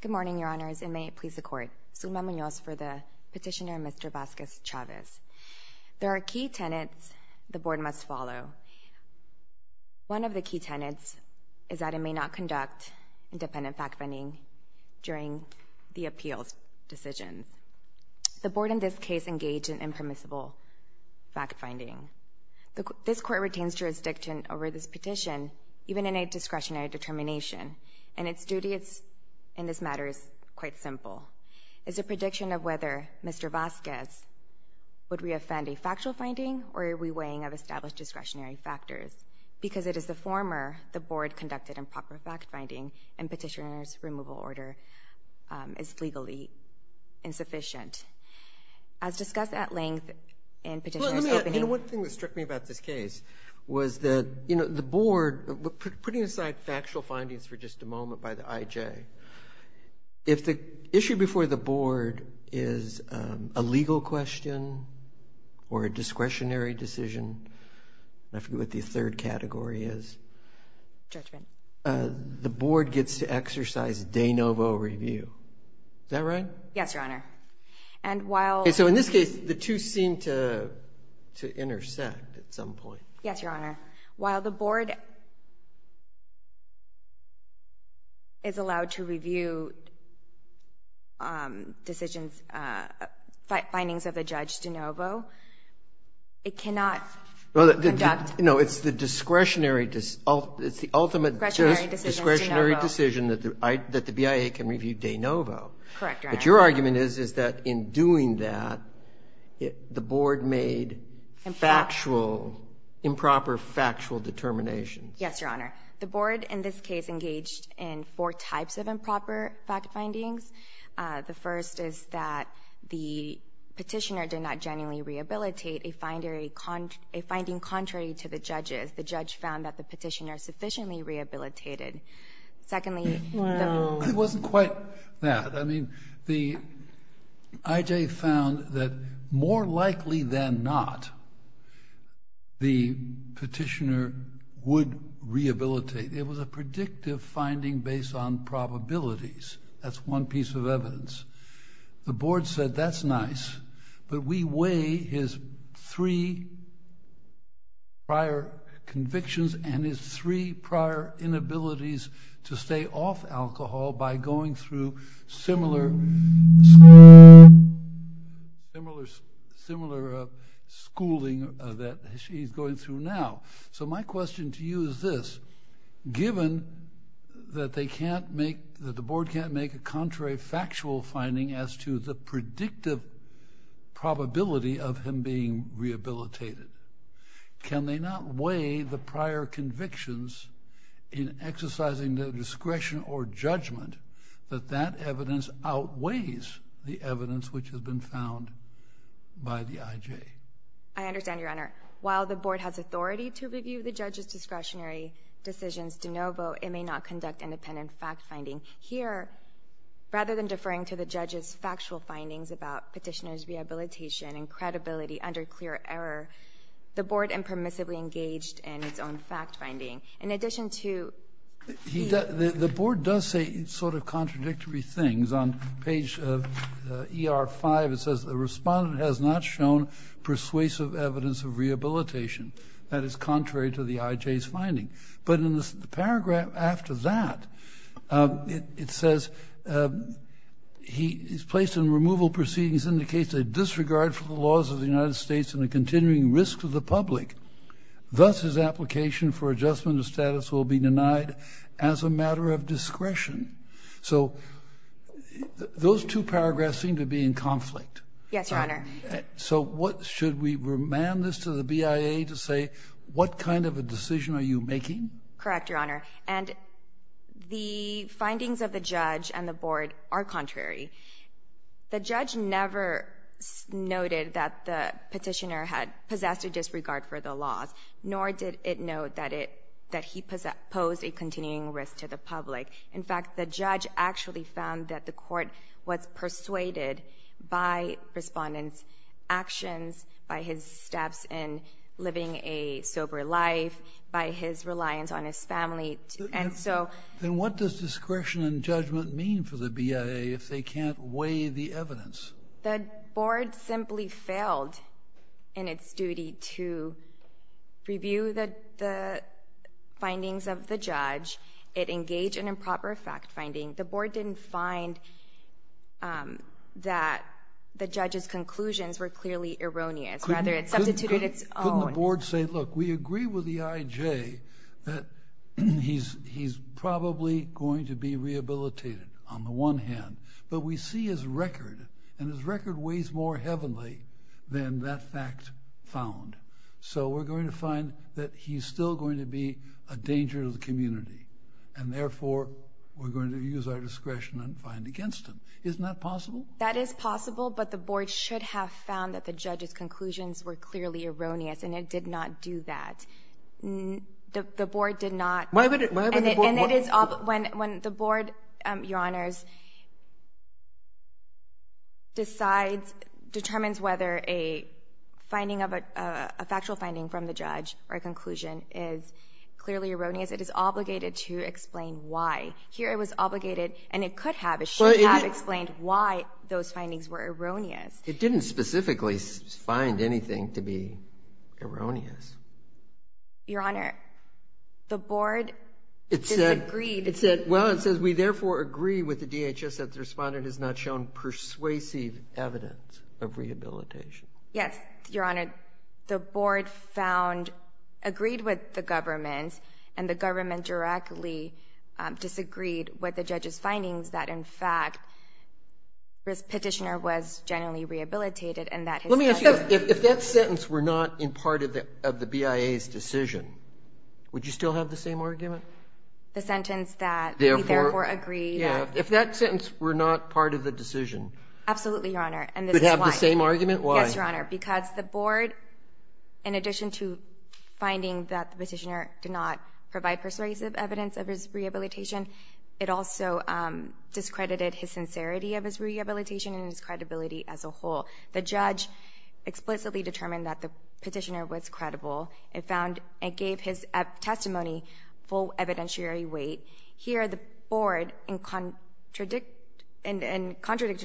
Good morning, Your Honors, and may it please the Court, Zulma Munoz for the petitioner Mr. Vasquez Chavez. There are key tenets the Board must follow. One of the key tenets is that it may not conduct independent fact-finding during the appeals decision. The Board in this case engaged in impermissible fact-finding. This Court retains jurisdiction over this petition, even in a discretionary determination, and its duty in this matter is quite simple. It is a prediction of whether Mr. Vasquez would re-offend a factual finding or a re-weighing of established discretionary factors, because it is the former the Board conducted improper fact-finding, and petitioner's removal order is legally insufficient. As discussed at length in Petitioner's Opening... Well, let me add, you know, one thing that struck me about this case was that, you know, the Board, putting aside factual findings for just a moment by the IJ, if the issue before the Board is a legal question or a discretionary decision, I forget what the third category is, the Board gets to exercise de novo review, is that right? Yes, Your Honor. And while... Okay, so in this case, the two seem to intersect at some point. Yes, Your Honor. While the Board is allowed to review decisions, findings of a judge de novo, it cannot conduct... No, it's the discretionary, it's the ultimate discretionary decision that the BIA can review de novo. Correct, Your Honor. But your argument is, is that in doing that, the Board made factual... Improper.... improper factual determinations. Yes, Your Honor. The Board in this case engaged in four types of improper fact-findings. The first is that the petitioner did not genuinely rehabilitate, a finding contrary to the judge's. The judge found that the petitioner sufficiently rehabilitated. Secondly... Well... It wasn't quite that. I mean, the IJ found that more likely than not, the petitioner would rehabilitate. It was a predictive finding based on probabilities. That's one piece of evidence. The Board said that's nice, but we weigh his three prior convictions and his three prior inabilities to stay off alcohol by going through similar... Similar schooling that he's going through now. So my question to you is this, given that they can't make... that the Board can't make a contrary factual finding as to the predictive probability of him being rehabilitated, can they not weigh the prior convictions in exercising their discretion or judgment that that evidence outweighs the evidence which has been found by the IJ? I understand, Your Honor. While the Board has authority to review the judge's discretionary decisions de novo, it may not conduct independent fact-finding here. Rather than deferring to the judge's factual findings about petitioner's rehabilitation and credibility under clear error, the Board impermissibly engaged in its own fact-finding. In addition to... The Board does say sort of contradictory things. On page ER5, it says the respondent has not shown persuasive evidence of rehabilitation. That is contrary to the IJ's finding. But in the paragraph after that, it says he's placed in removal proceedings indicates a disregard for the laws of the United States and a continuing risk to the public. Thus, his application for adjustment of status will be denied as a matter of discretion. So those two paragraphs seem to be in conflict. Yes, Your Honor. So what... should we remand this to the BIA to say what kind of a decision are you making? Correct, Your Honor. And the findings of the judge and the Board are contrary. The judge never noted that the petitioner had possessed a disregard for the laws, nor did it note that he posed a continuing risk to the public. In fact, the judge actually found that the court was persuaded by respondent's actions, by his steps in living a sober life, by his reliance on his family, and so... The Board simply failed in its duty to review the findings of the judge. It engaged in improper fact-finding. The Board didn't find that the judge's conclusions were clearly erroneous, rather it substituted its own. Couldn't the Board say, look, we agree with the IJ that he's probably going to be rehabilitated on the one hand, but we see his record, and his record weighs more heavenly than that fact found. So we're going to find that he's still going to be a danger to the community, and therefore we're going to use our discretion and find against him. Isn't that possible? That is possible, but the Board should have found that the judge's conclusions were clearly erroneous, and it did not do that. The Board did not... Why would the Board... And it is... when the Board, Your Honors, decides, determines whether a finding of a factual finding from the judge or a conclusion is clearly erroneous, it is obligated to explain why. Here it was obligated, and it could have, it should have explained why those findings were erroneous. It didn't specifically find anything to be erroneous. Your Honor, the Board... It said...... disagreed. It said, well, it says, we therefore agree with the DHS that the respondent has not shown persuasive evidence of rehabilitation. Yes, Your Honor, the Board found, agreed with the government, and the government directly disagreed with the judge's findings that, in fact, this petitioner was genuinely rehabilitated, and that his... Let me ask you, if that sentence were not in part of the BIA's decision, would you still have the same argument? The sentence that... Therefore...... we therefore agree that... Yeah. If that sentence were not part of the decision... Absolutely, Your Honor. And this is why. Would it have the same argument? Why? Yes, Your Honor, because the Board, in addition to finding that the petitioner did not provide persuasive evidence of his rehabilitation, it also discredited his sincerity of his rehabilitation and his credibility as a whole. The judge explicitly determined that the petitioner was credible, and found, and gave his testimony full evidentiary weight. Here the Board, in contradiction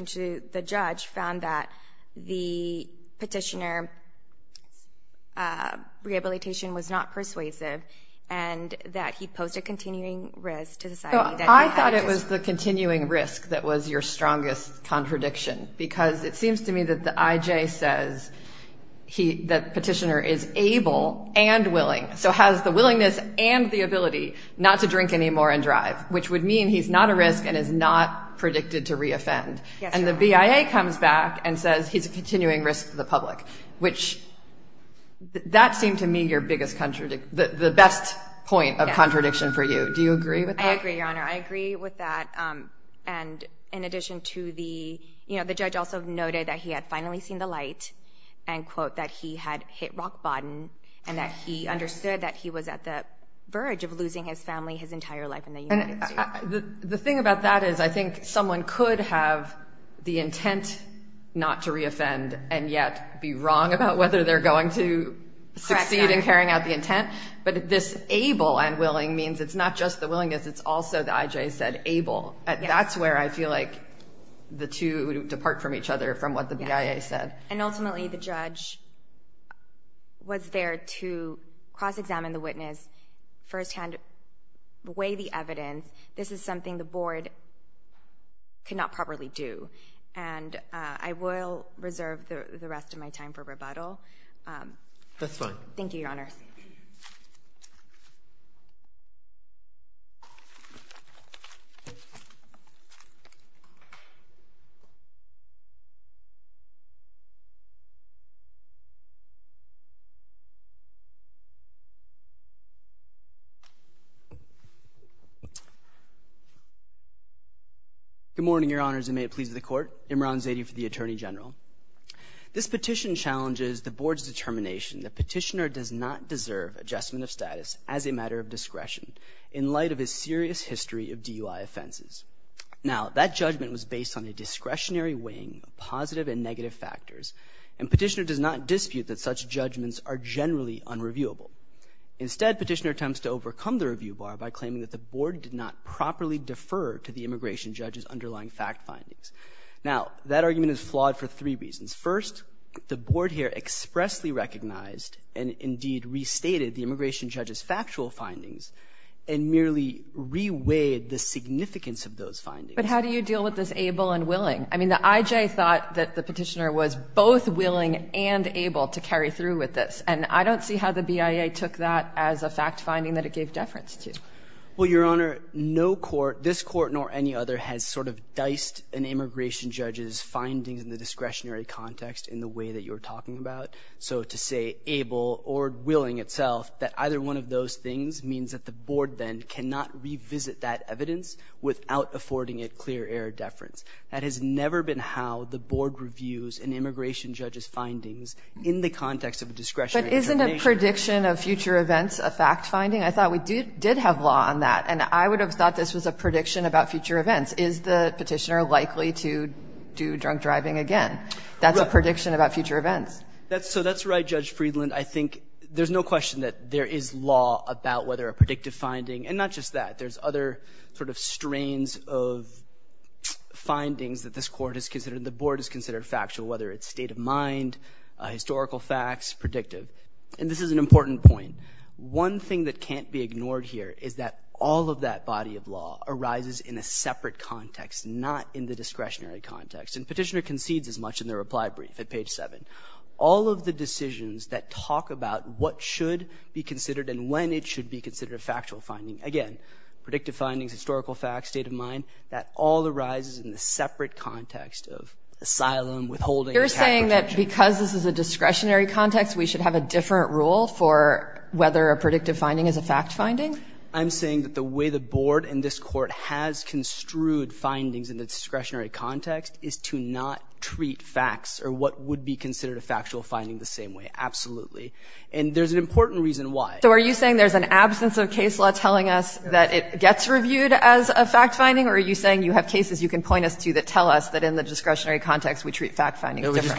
to the judge, found that the petitioner's rehabilitation was not persuasive, and that he posed a continuing risk to society that... I thought it was the continuing risk that was your strongest contradiction, because it seems to me that the IJ says that the petitioner is able and willing, so has the willingness and the ability not to drink anymore and drive, which would mean he's not a risk and is not predicted to re-offend. Yes, Your Honor. And the BIA comes back and says he's a continuing risk to the public, which... that seemed to me your biggest... the best point of contradiction for you. Do you agree with that? I agree, Your Honor. I agree with that. And in addition to the... you know, the judge also noted that he had finally seen the light, and quote, that he had hit rock bottom, and that he understood that he was at the verge of losing his family, his entire life in the United States. The thing about that is I think someone could have the intent not to re-offend, and yet be wrong about whether they're going to succeed in carrying out the intent, but this able and willing means it's not just the willingness, it's also, the I.J. said, able. That's where I feel like the two depart from each other from what the BIA said. And ultimately, the judge was there to cross-examine the witness, first-hand weigh the evidence. This is something the Board could not properly do, and I will reserve the rest of my time for rebuttal. That's fine. Thank you, Your Honor. Thank you, Your Honor. Good morning, Your Honors, and may it please the Court. Imran Zaidi for the Attorney General. This petition challenges the Board's determination. The petitioner does not deserve adjustment of status as a matter of discretion in light of his serious history of DUI offenses. Now, that judgment was based on a discretionary weighing of positive and negative factors, and petitioner does not dispute that such judgments are generally unreviewable. Instead, petitioner attempts to overcome the review bar by claiming that the Board did not properly defer to the immigration judge's underlying fact findings. Now, that argument is flawed for three reasons. First, the Board here expressly recognized and indeed restated the immigration judge's factual findings and merely re-weighed the significance of those findings. But how do you deal with this able and willing? I mean, the IJ thought that the petitioner was both willing and able to carry through with this, and I don't see how the BIA took that as a fact finding that it gave deference to. Well, Your Honor, no court, this Court nor any other, has sort of diced an immigration judge's findings in the discretionary context in the way that you're talking about. So to say able or willing itself, that either one of those things means that the Board then cannot revisit that evidence without affording it clear air deference. That has never been how the Board reviews an immigration judge's findings in the context of a discretionary determination. But isn't a prediction of future events a fact finding? I thought we did have law on that, and I would have thought this was a prediction about future events. Is the petitioner likely to do drunk driving again? That's a prediction about future events. So that's right, Judge Friedland. I think there's no question that there is law about whether a predictive finding – and not just that. There's other sort of strains of findings that this Court has considered, the Board has considered factual, whether it's state of mind, historical facts, predictive. And this is an important point. One thing that can't be ignored here is that all of that body of law arises in a separate context, not in the discretionary context. And Petitioner concedes as much in their reply brief at page 7. All of the decisions that talk about what should be considered and when it should be considered a factual finding, again, predictive findings, historical facts, state of mind, that all arises in a separate context of asylum, withholding, and capital detention. You're saying that because this is a discretionary context, we should have a different rule for whether a predictive finding is a fact finding? I'm saying that the way the Board and this Court has construed findings in the discretionary context is to not treat facts or what would be considered a factual finding the same way, absolutely. And there's an important reason why. So are you saying there's an absence of case law telling us that it gets reviewed as a fact finding, or are you saying you have cases you can point us to that tell us that in the discretionary context we treat fact findings differently? No,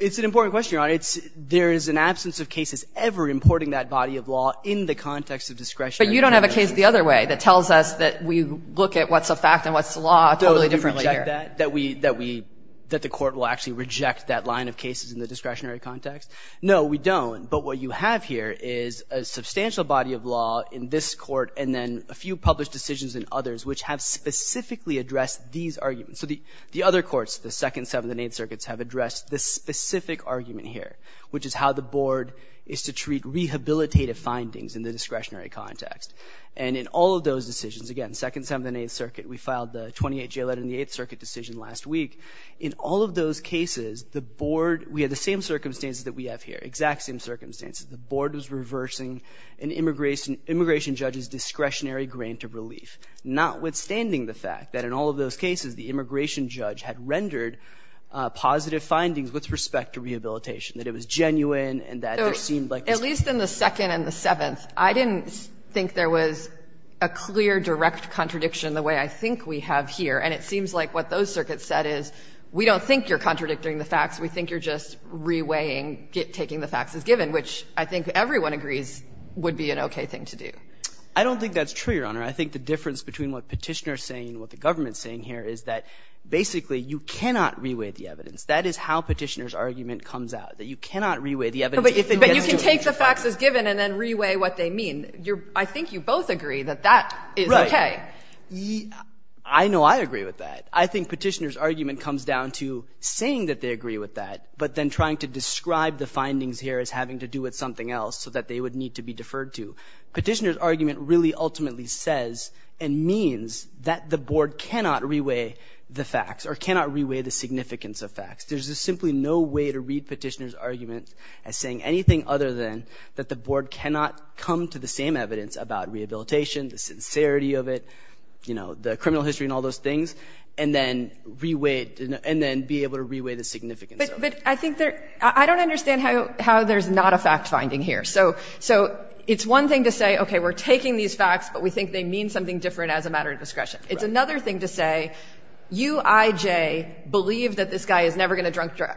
it's an important question, Your Honor. There is an absence of cases ever importing that body of law in the context of discretionary context. But you don't have a case the other way that tells us that we look at what's a fact and what's a law totally differently here. That the Court will actually reject that line of cases in the discretionary context? No, we don't. But what you have here is a substantial body of law in this Court and then a few published decisions in others which have specifically addressed these arguments. So the other courts, the Second, Seventh, and Eighth Circuits have addressed this specific argument here, which is how the Board is to treat rehabilitative findings in the discretionary context. And in all of those decisions, again, Second, Seventh, and Eighth Circuit, we filed the 28-J letter in the Eighth Circuit decision last week. In all of those cases, the Board, we had the same circumstances that we have here, exact same circumstances. The Board was reversing an immigration judge's discretionary grant of relief, notwithstanding the fact that in all of those cases, the immigration judge had rendered positive findings with respect to rehabilitation, that it was genuine and that there seemed like this was true. So at least in the Second and the Seventh, I didn't think there was a clear direct contradiction the way I think we have here. And it seems like what those circuits said is, we don't think you're contradicting the facts, we think you're just reweighing, taking the facts as given, which I think everyone agrees would be an okay thing to do. I don't think that's true, Your Honor. I think the difference between what Petitioner is saying and what the government is saying here is that, basically, you cannot reweigh the evidence. That is how Petitioner's argument comes out, that you cannot reweigh the evidence if it gets to a point. But you can take the facts as given and then reweigh what they mean. I think you both agree that that is okay. Right. I know I agree with that. I think Petitioner's argument comes down to saying that they agree with that, but then trying to describe the findings here as having to do with something else so that they would need to be deferred to. Petitioner's argument really ultimately says and means that the board cannot reweigh the facts or cannot reweigh the significance of facts. There's just simply no way to read Petitioner's argument as saying anything other than that the board cannot come to the same evidence about rehabilitation, the sincerity of it, the criminal history and all those things, and then be able to reweigh the significance of it. But I don't understand how there's not a fact finding here. So it's one thing to say, okay, we're taking these facts, but we think they mean something different as a matter of discretion. It's another thing to say, you, I, J, believe that this guy is never going to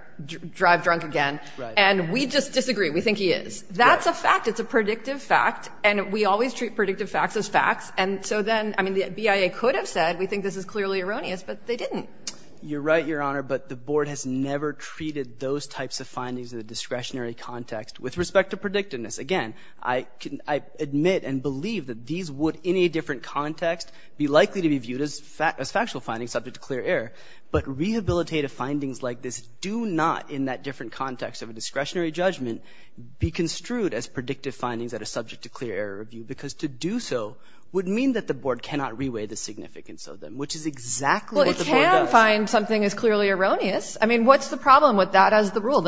drive drunk again, and we just disagree. We think he is. That's a fact. It's a predictive fact, and we always treat predictive facts as facts. And so then, I mean, the BIA could have said, we think this is clearly erroneous, but they didn't. You're right, Your Honor, but the board has never treated those types of findings in a discretionary context with respect to predictiveness. Again, I admit and believe that these would, in a different context, be likely to be viewed as factual findings subject to clear error. But rehabilitative findings like this do not, in that different context of a discretionary judgment, be construed as predictive findings that are subject to clear error review, because to do so would mean that the board cannot reweigh the significance of them, which is exactly what the board does. Well, it can find something as clearly erroneous. I mean, what's the problem with that as the rule?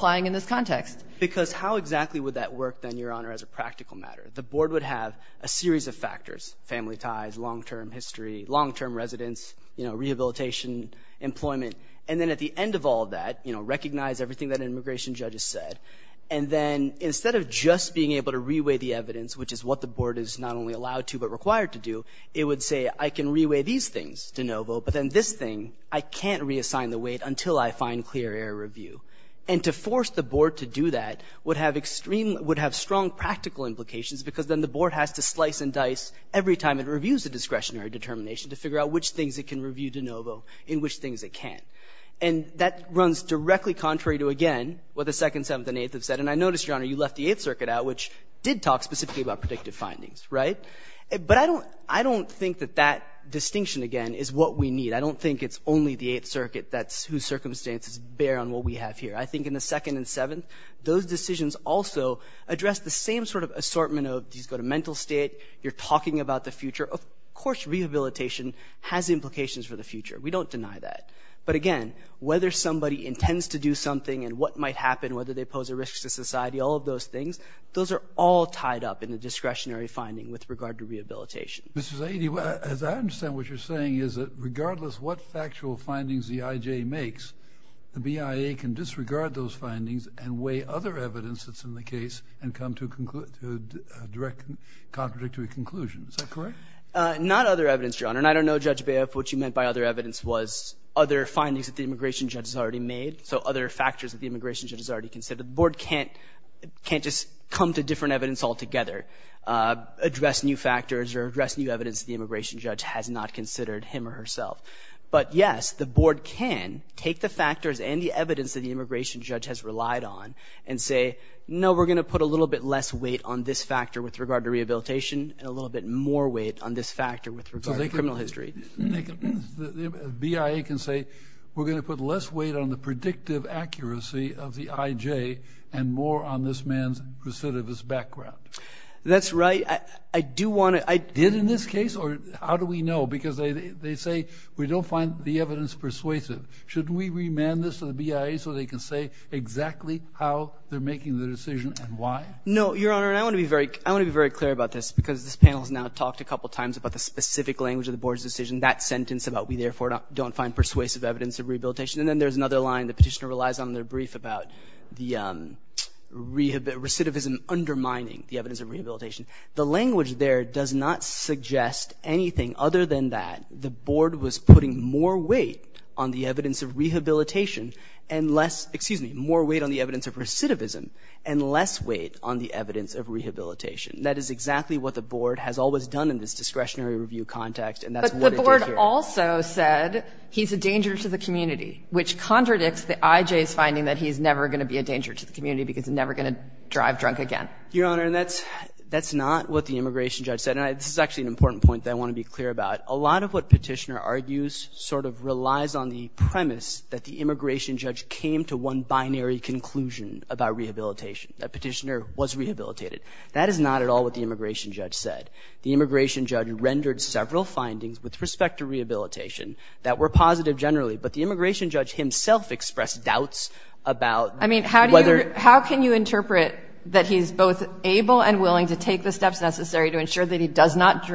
Applying in this context. Because how exactly would that work, then, Your Honor, as a practical matter? The board would have a series of factors, family ties, long-term history, long-term residence, rehabilitation, employment. And then at the end of all of that, recognize everything that an immigration judge has said. And then, instead of just being able to reweigh the evidence, which is what the board is not only allowed to but required to do, it would say, I can reweigh these things, DeNovo, but then this thing, I can't reassign the weight until I find clear error review. And to force the board to do that would have extreme, would have strong practical implications, because then the board has to slice and dice every time it reviews a discretionary determination to figure out which things it can review, DeNovo, and which things it can't. And that runs directly contrary to, again, what the Second, Seventh, and Eighth have said. And I noticed, Your Honor, you left the Eighth Circuit out, which did talk specifically about predictive findings, right? But I don't think that that distinction, again, is what we need. I don't think it's only the Eighth Circuit that's whose circumstances bear on what we have here. I think in the Second and Seventh, those decisions also address the same sort of assortment of, these go to mental state, you're talking about the future. Of course, rehabilitation has implications for the future. We don't deny that. But again, whether somebody intends to do something and what might happen, whether they pose a risk to society, all of those things, those are all tied up in the discretionary finding with regard to rehabilitation. Mr. Zaidi, as I understand what you're saying, is that regardless what factual findings the IJ makes, the BIA can disregard those findings and weigh other evidence that's in the case and come to a direct, contradictory conclusion. Is that correct? Not other evidence, Your Honor. And I don't know, Judge Baiff, what you meant by other evidence was other findings that the immigration judge has already made, so other factors that the immigration judge has already considered. The Board can't just come to different evidence altogether. Address new factors or address new evidence the immigration judge has not considered him or herself. But yes, the Board can take the factors and the evidence that the immigration judge has relied on and say, no, we're going to put a little bit less weight on this factor with regard to rehabilitation and a little bit more weight on this factor with regard to criminal history. BIA can say, we're going to put less weight on the predictive accuracy of the IJ and more on this man's recidivist background. That's right. I do want to... Did in this case, or how do we know? Because they say, we don't find the evidence persuasive. Should we remand this to the BIA so they can say exactly how they're making the decision and why? No, Your Honor, and I want to be very clear about this because this panel has now talked a couple of times about the specific language of the Board's decision, that sentence about we therefore don't find persuasive evidence of rehabilitation. And then there's another line the petitioner relies on in their brief about the recidivism undermining the evidence of rehabilitation. The language there does not suggest anything other than that the Board was putting more weight on the evidence of rehabilitation and less, excuse me, more weight on the evidence of recidivism and less weight on the evidence of rehabilitation. That is exactly what the Board has always done in this discretionary review context, and that's what it did here. But the Board also said he's a danger to the community, which contradicts the IJ's finding that he's never going to be a danger to the community because he's never going to drive drunk again. Your Honor, and that's not what the immigration judge said. And this is actually an important point that I want to be clear about. A lot of what petitioner argues sort of relies on the premise that the immigration judge came to one binary conclusion about rehabilitation, that petitioner was rehabilitated. That is not at all what the immigration judge said. The immigration judge rendered several findings with respect to rehabilitation that were positive generally, but the immigration judge himself expressed doubts about whether- able and willing to take the steps necessary to ensure that he does not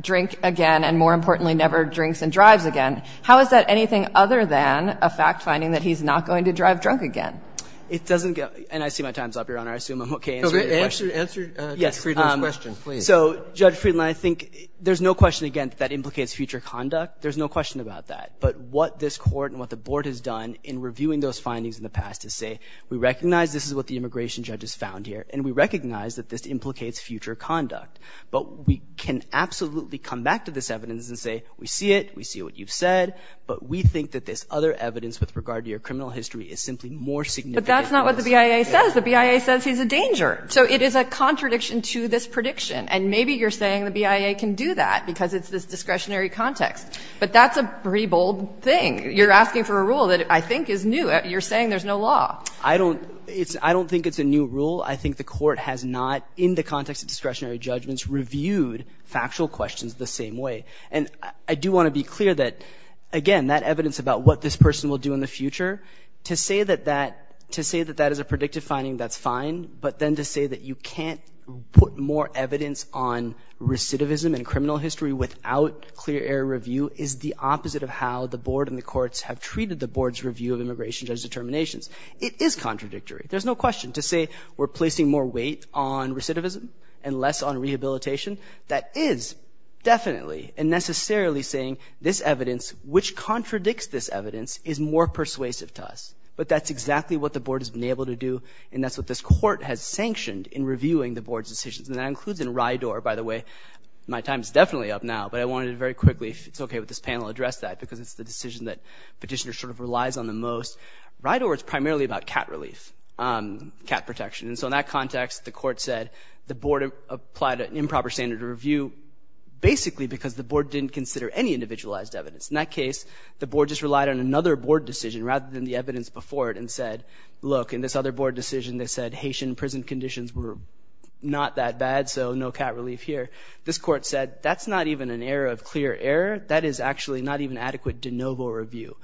drink again, and more importantly, never drinks and drives again. How is that anything other than a fact finding that he's not going to drive drunk again? It doesn't go, and I see my time's up, Your Honor. I assume I'm okay answering your question. Answer Judge Friedland's question, please. So, Judge Friedland, I think there's no question, again, that that implicates future conduct. There's no question about that. But what this Court and what the Board has done in reviewing those findings in the past is say, we recognize this is what the immigration judge has found here, and we recognize that this implicates future conduct. But we can absolutely come back to this evidence and say, we see it, we see what you've said, but we think that this other evidence with regard to your criminal history is simply more significant. But that's not what the BIA says. The BIA says he's a danger. So it is a contradiction to this prediction, and maybe you're saying the BIA can do that because it's this discretionary context. But that's a pretty bold thing. You're asking for a rule that I think is new. You're saying there's no law. I don't think it's a new rule. I think the Court has not, in the context of discretionary judgments, reviewed factual questions the same way. And I do want to be clear that, again, that evidence about what this person will do in the future, to say that that is a predictive finding, that's fine. But then to say that you can't put more evidence on recidivism and criminal history without clear air review is the opposite of how the Board and the courts have treated the Board's review of immigration judge determinations. It is contradictory. There's no question. To say we're placing more weight on recidivism and less on rehabilitation, that is definitely and necessarily saying this evidence, which contradicts this evidence, is more persuasive to us. But that's exactly what the Board has been able to do, and that's what this Court has sanctioned in reviewing the Board's decisions. And that includes in RIDOR, by the way. My time's definitely up now, but I wanted to very quickly, if it's okay with this panel, address that, because it's the decision that Petitioner sort of relies on the most. RIDOR is primarily about cat relief, cat protection. And so in that context, the Court said the Board applied an improper standard of review basically because the Board didn't consider any individualized evidence. In that case, the Board just relied on another Board decision rather than the evidence before it, and said, look, in this other Board decision, they said Haitian prison conditions were not that bad, so no cat relief here. This Court said, that's not even an error of clear air. That is actually not even adequate de novo review.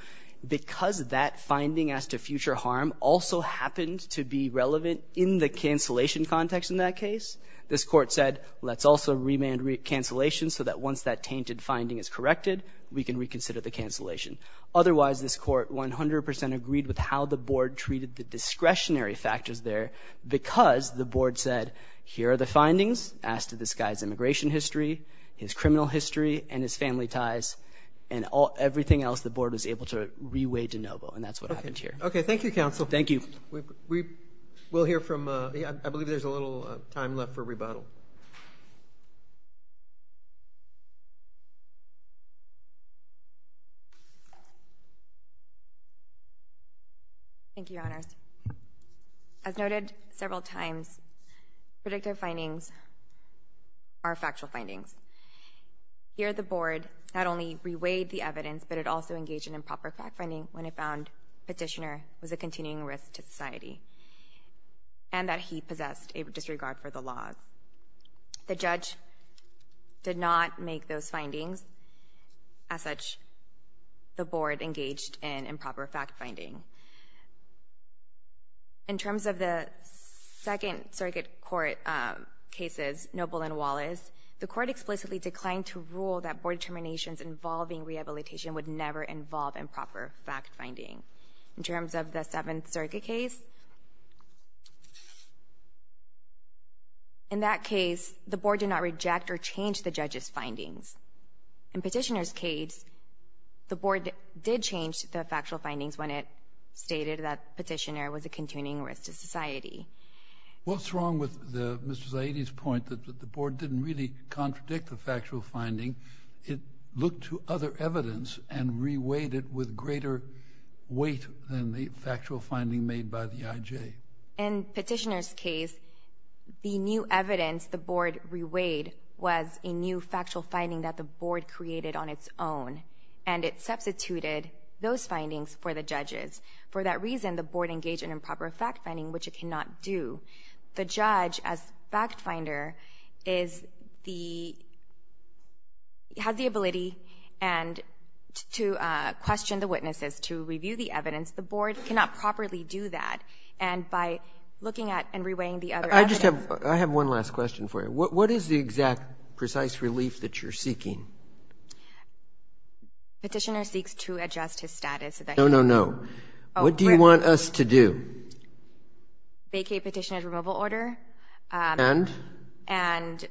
Because that finding as to future harm also happened to be relevant in the cancellation context in that case, this Court said, let's also remand cancellation so that once that tainted finding is corrected, we can reconsider the cancellation. Otherwise, this Court 100% agreed with how the Board treated the discretionary factors there because the Board said, here are the findings as to this guy's immigration history, his criminal history, and his family ties, and everything else the Board was able to reweigh de novo, and that's what happened here. Okay, thank you, Counsel. Thank you. We'll hear from, I believe there's a little time left for rebuttal. Thank you, Your Honors. As noted several times, predictive findings are factual findings. Here, the Board not only reweighed the evidence, but it also engaged in improper fact-finding when it found Petitioner was a continuing risk to society, and that he possessed a disregard for the law. The judge did not make those findings. As such, the Board engaged in improper fact-finding. In terms of the Second Circuit Court cases, Noble and Wallace, the Court explicitly declined to rule that Board determinations involving rehabilitation would never involve improper fact-finding. In terms of the Seventh Circuit case, in that case, the Board did not reject or change the judge's findings. In Petitioner's case, the Board did change the factual findings when it stated that Petitioner was a continuing risk to society. What's wrong with Mr. Zaidi's point that the Board didn't really contradict the factual finding? It looked to other evidence and reweighed it with greater weight than the factual finding made by the IJ. In Petitioner's case, the new evidence the Board reweighed was a new factual finding that the Board created on its own, and it substituted those findings for the judge's. For that reason, the Board engaged in improper fact-finding, which it cannot do. The judge, as fact-finder, has the ability to question the witnesses, to review the evidence. The Board cannot properly do that, and by looking at and reweighing the other evidence. I have one last question for you. What is the exact precise relief that you're seeking? Petitioner seeks to adjust his status. No, no, no. What do you want us to do? Vacate Petitioner's removal order. And? And,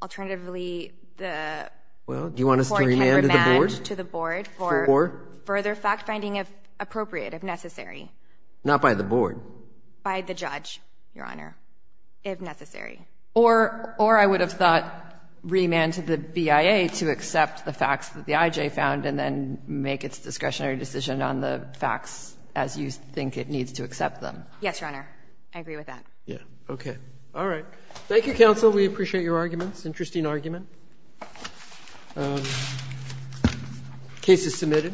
alternatively, the Board can remand to the Board for further fact-finding, if appropriate, if necessary. Not by the Board? By the judge, Your Honor, if necessary. Or I would have thought remand to the BIA to accept the facts that the IJ found and then make its discretionary decision on the facts as you think it needs to accept them. Yes, Your Honor, I agree with that. Yeah, okay. All right. Thank you, counsel. We appreciate your arguments. Interesting argument. Case is submitted.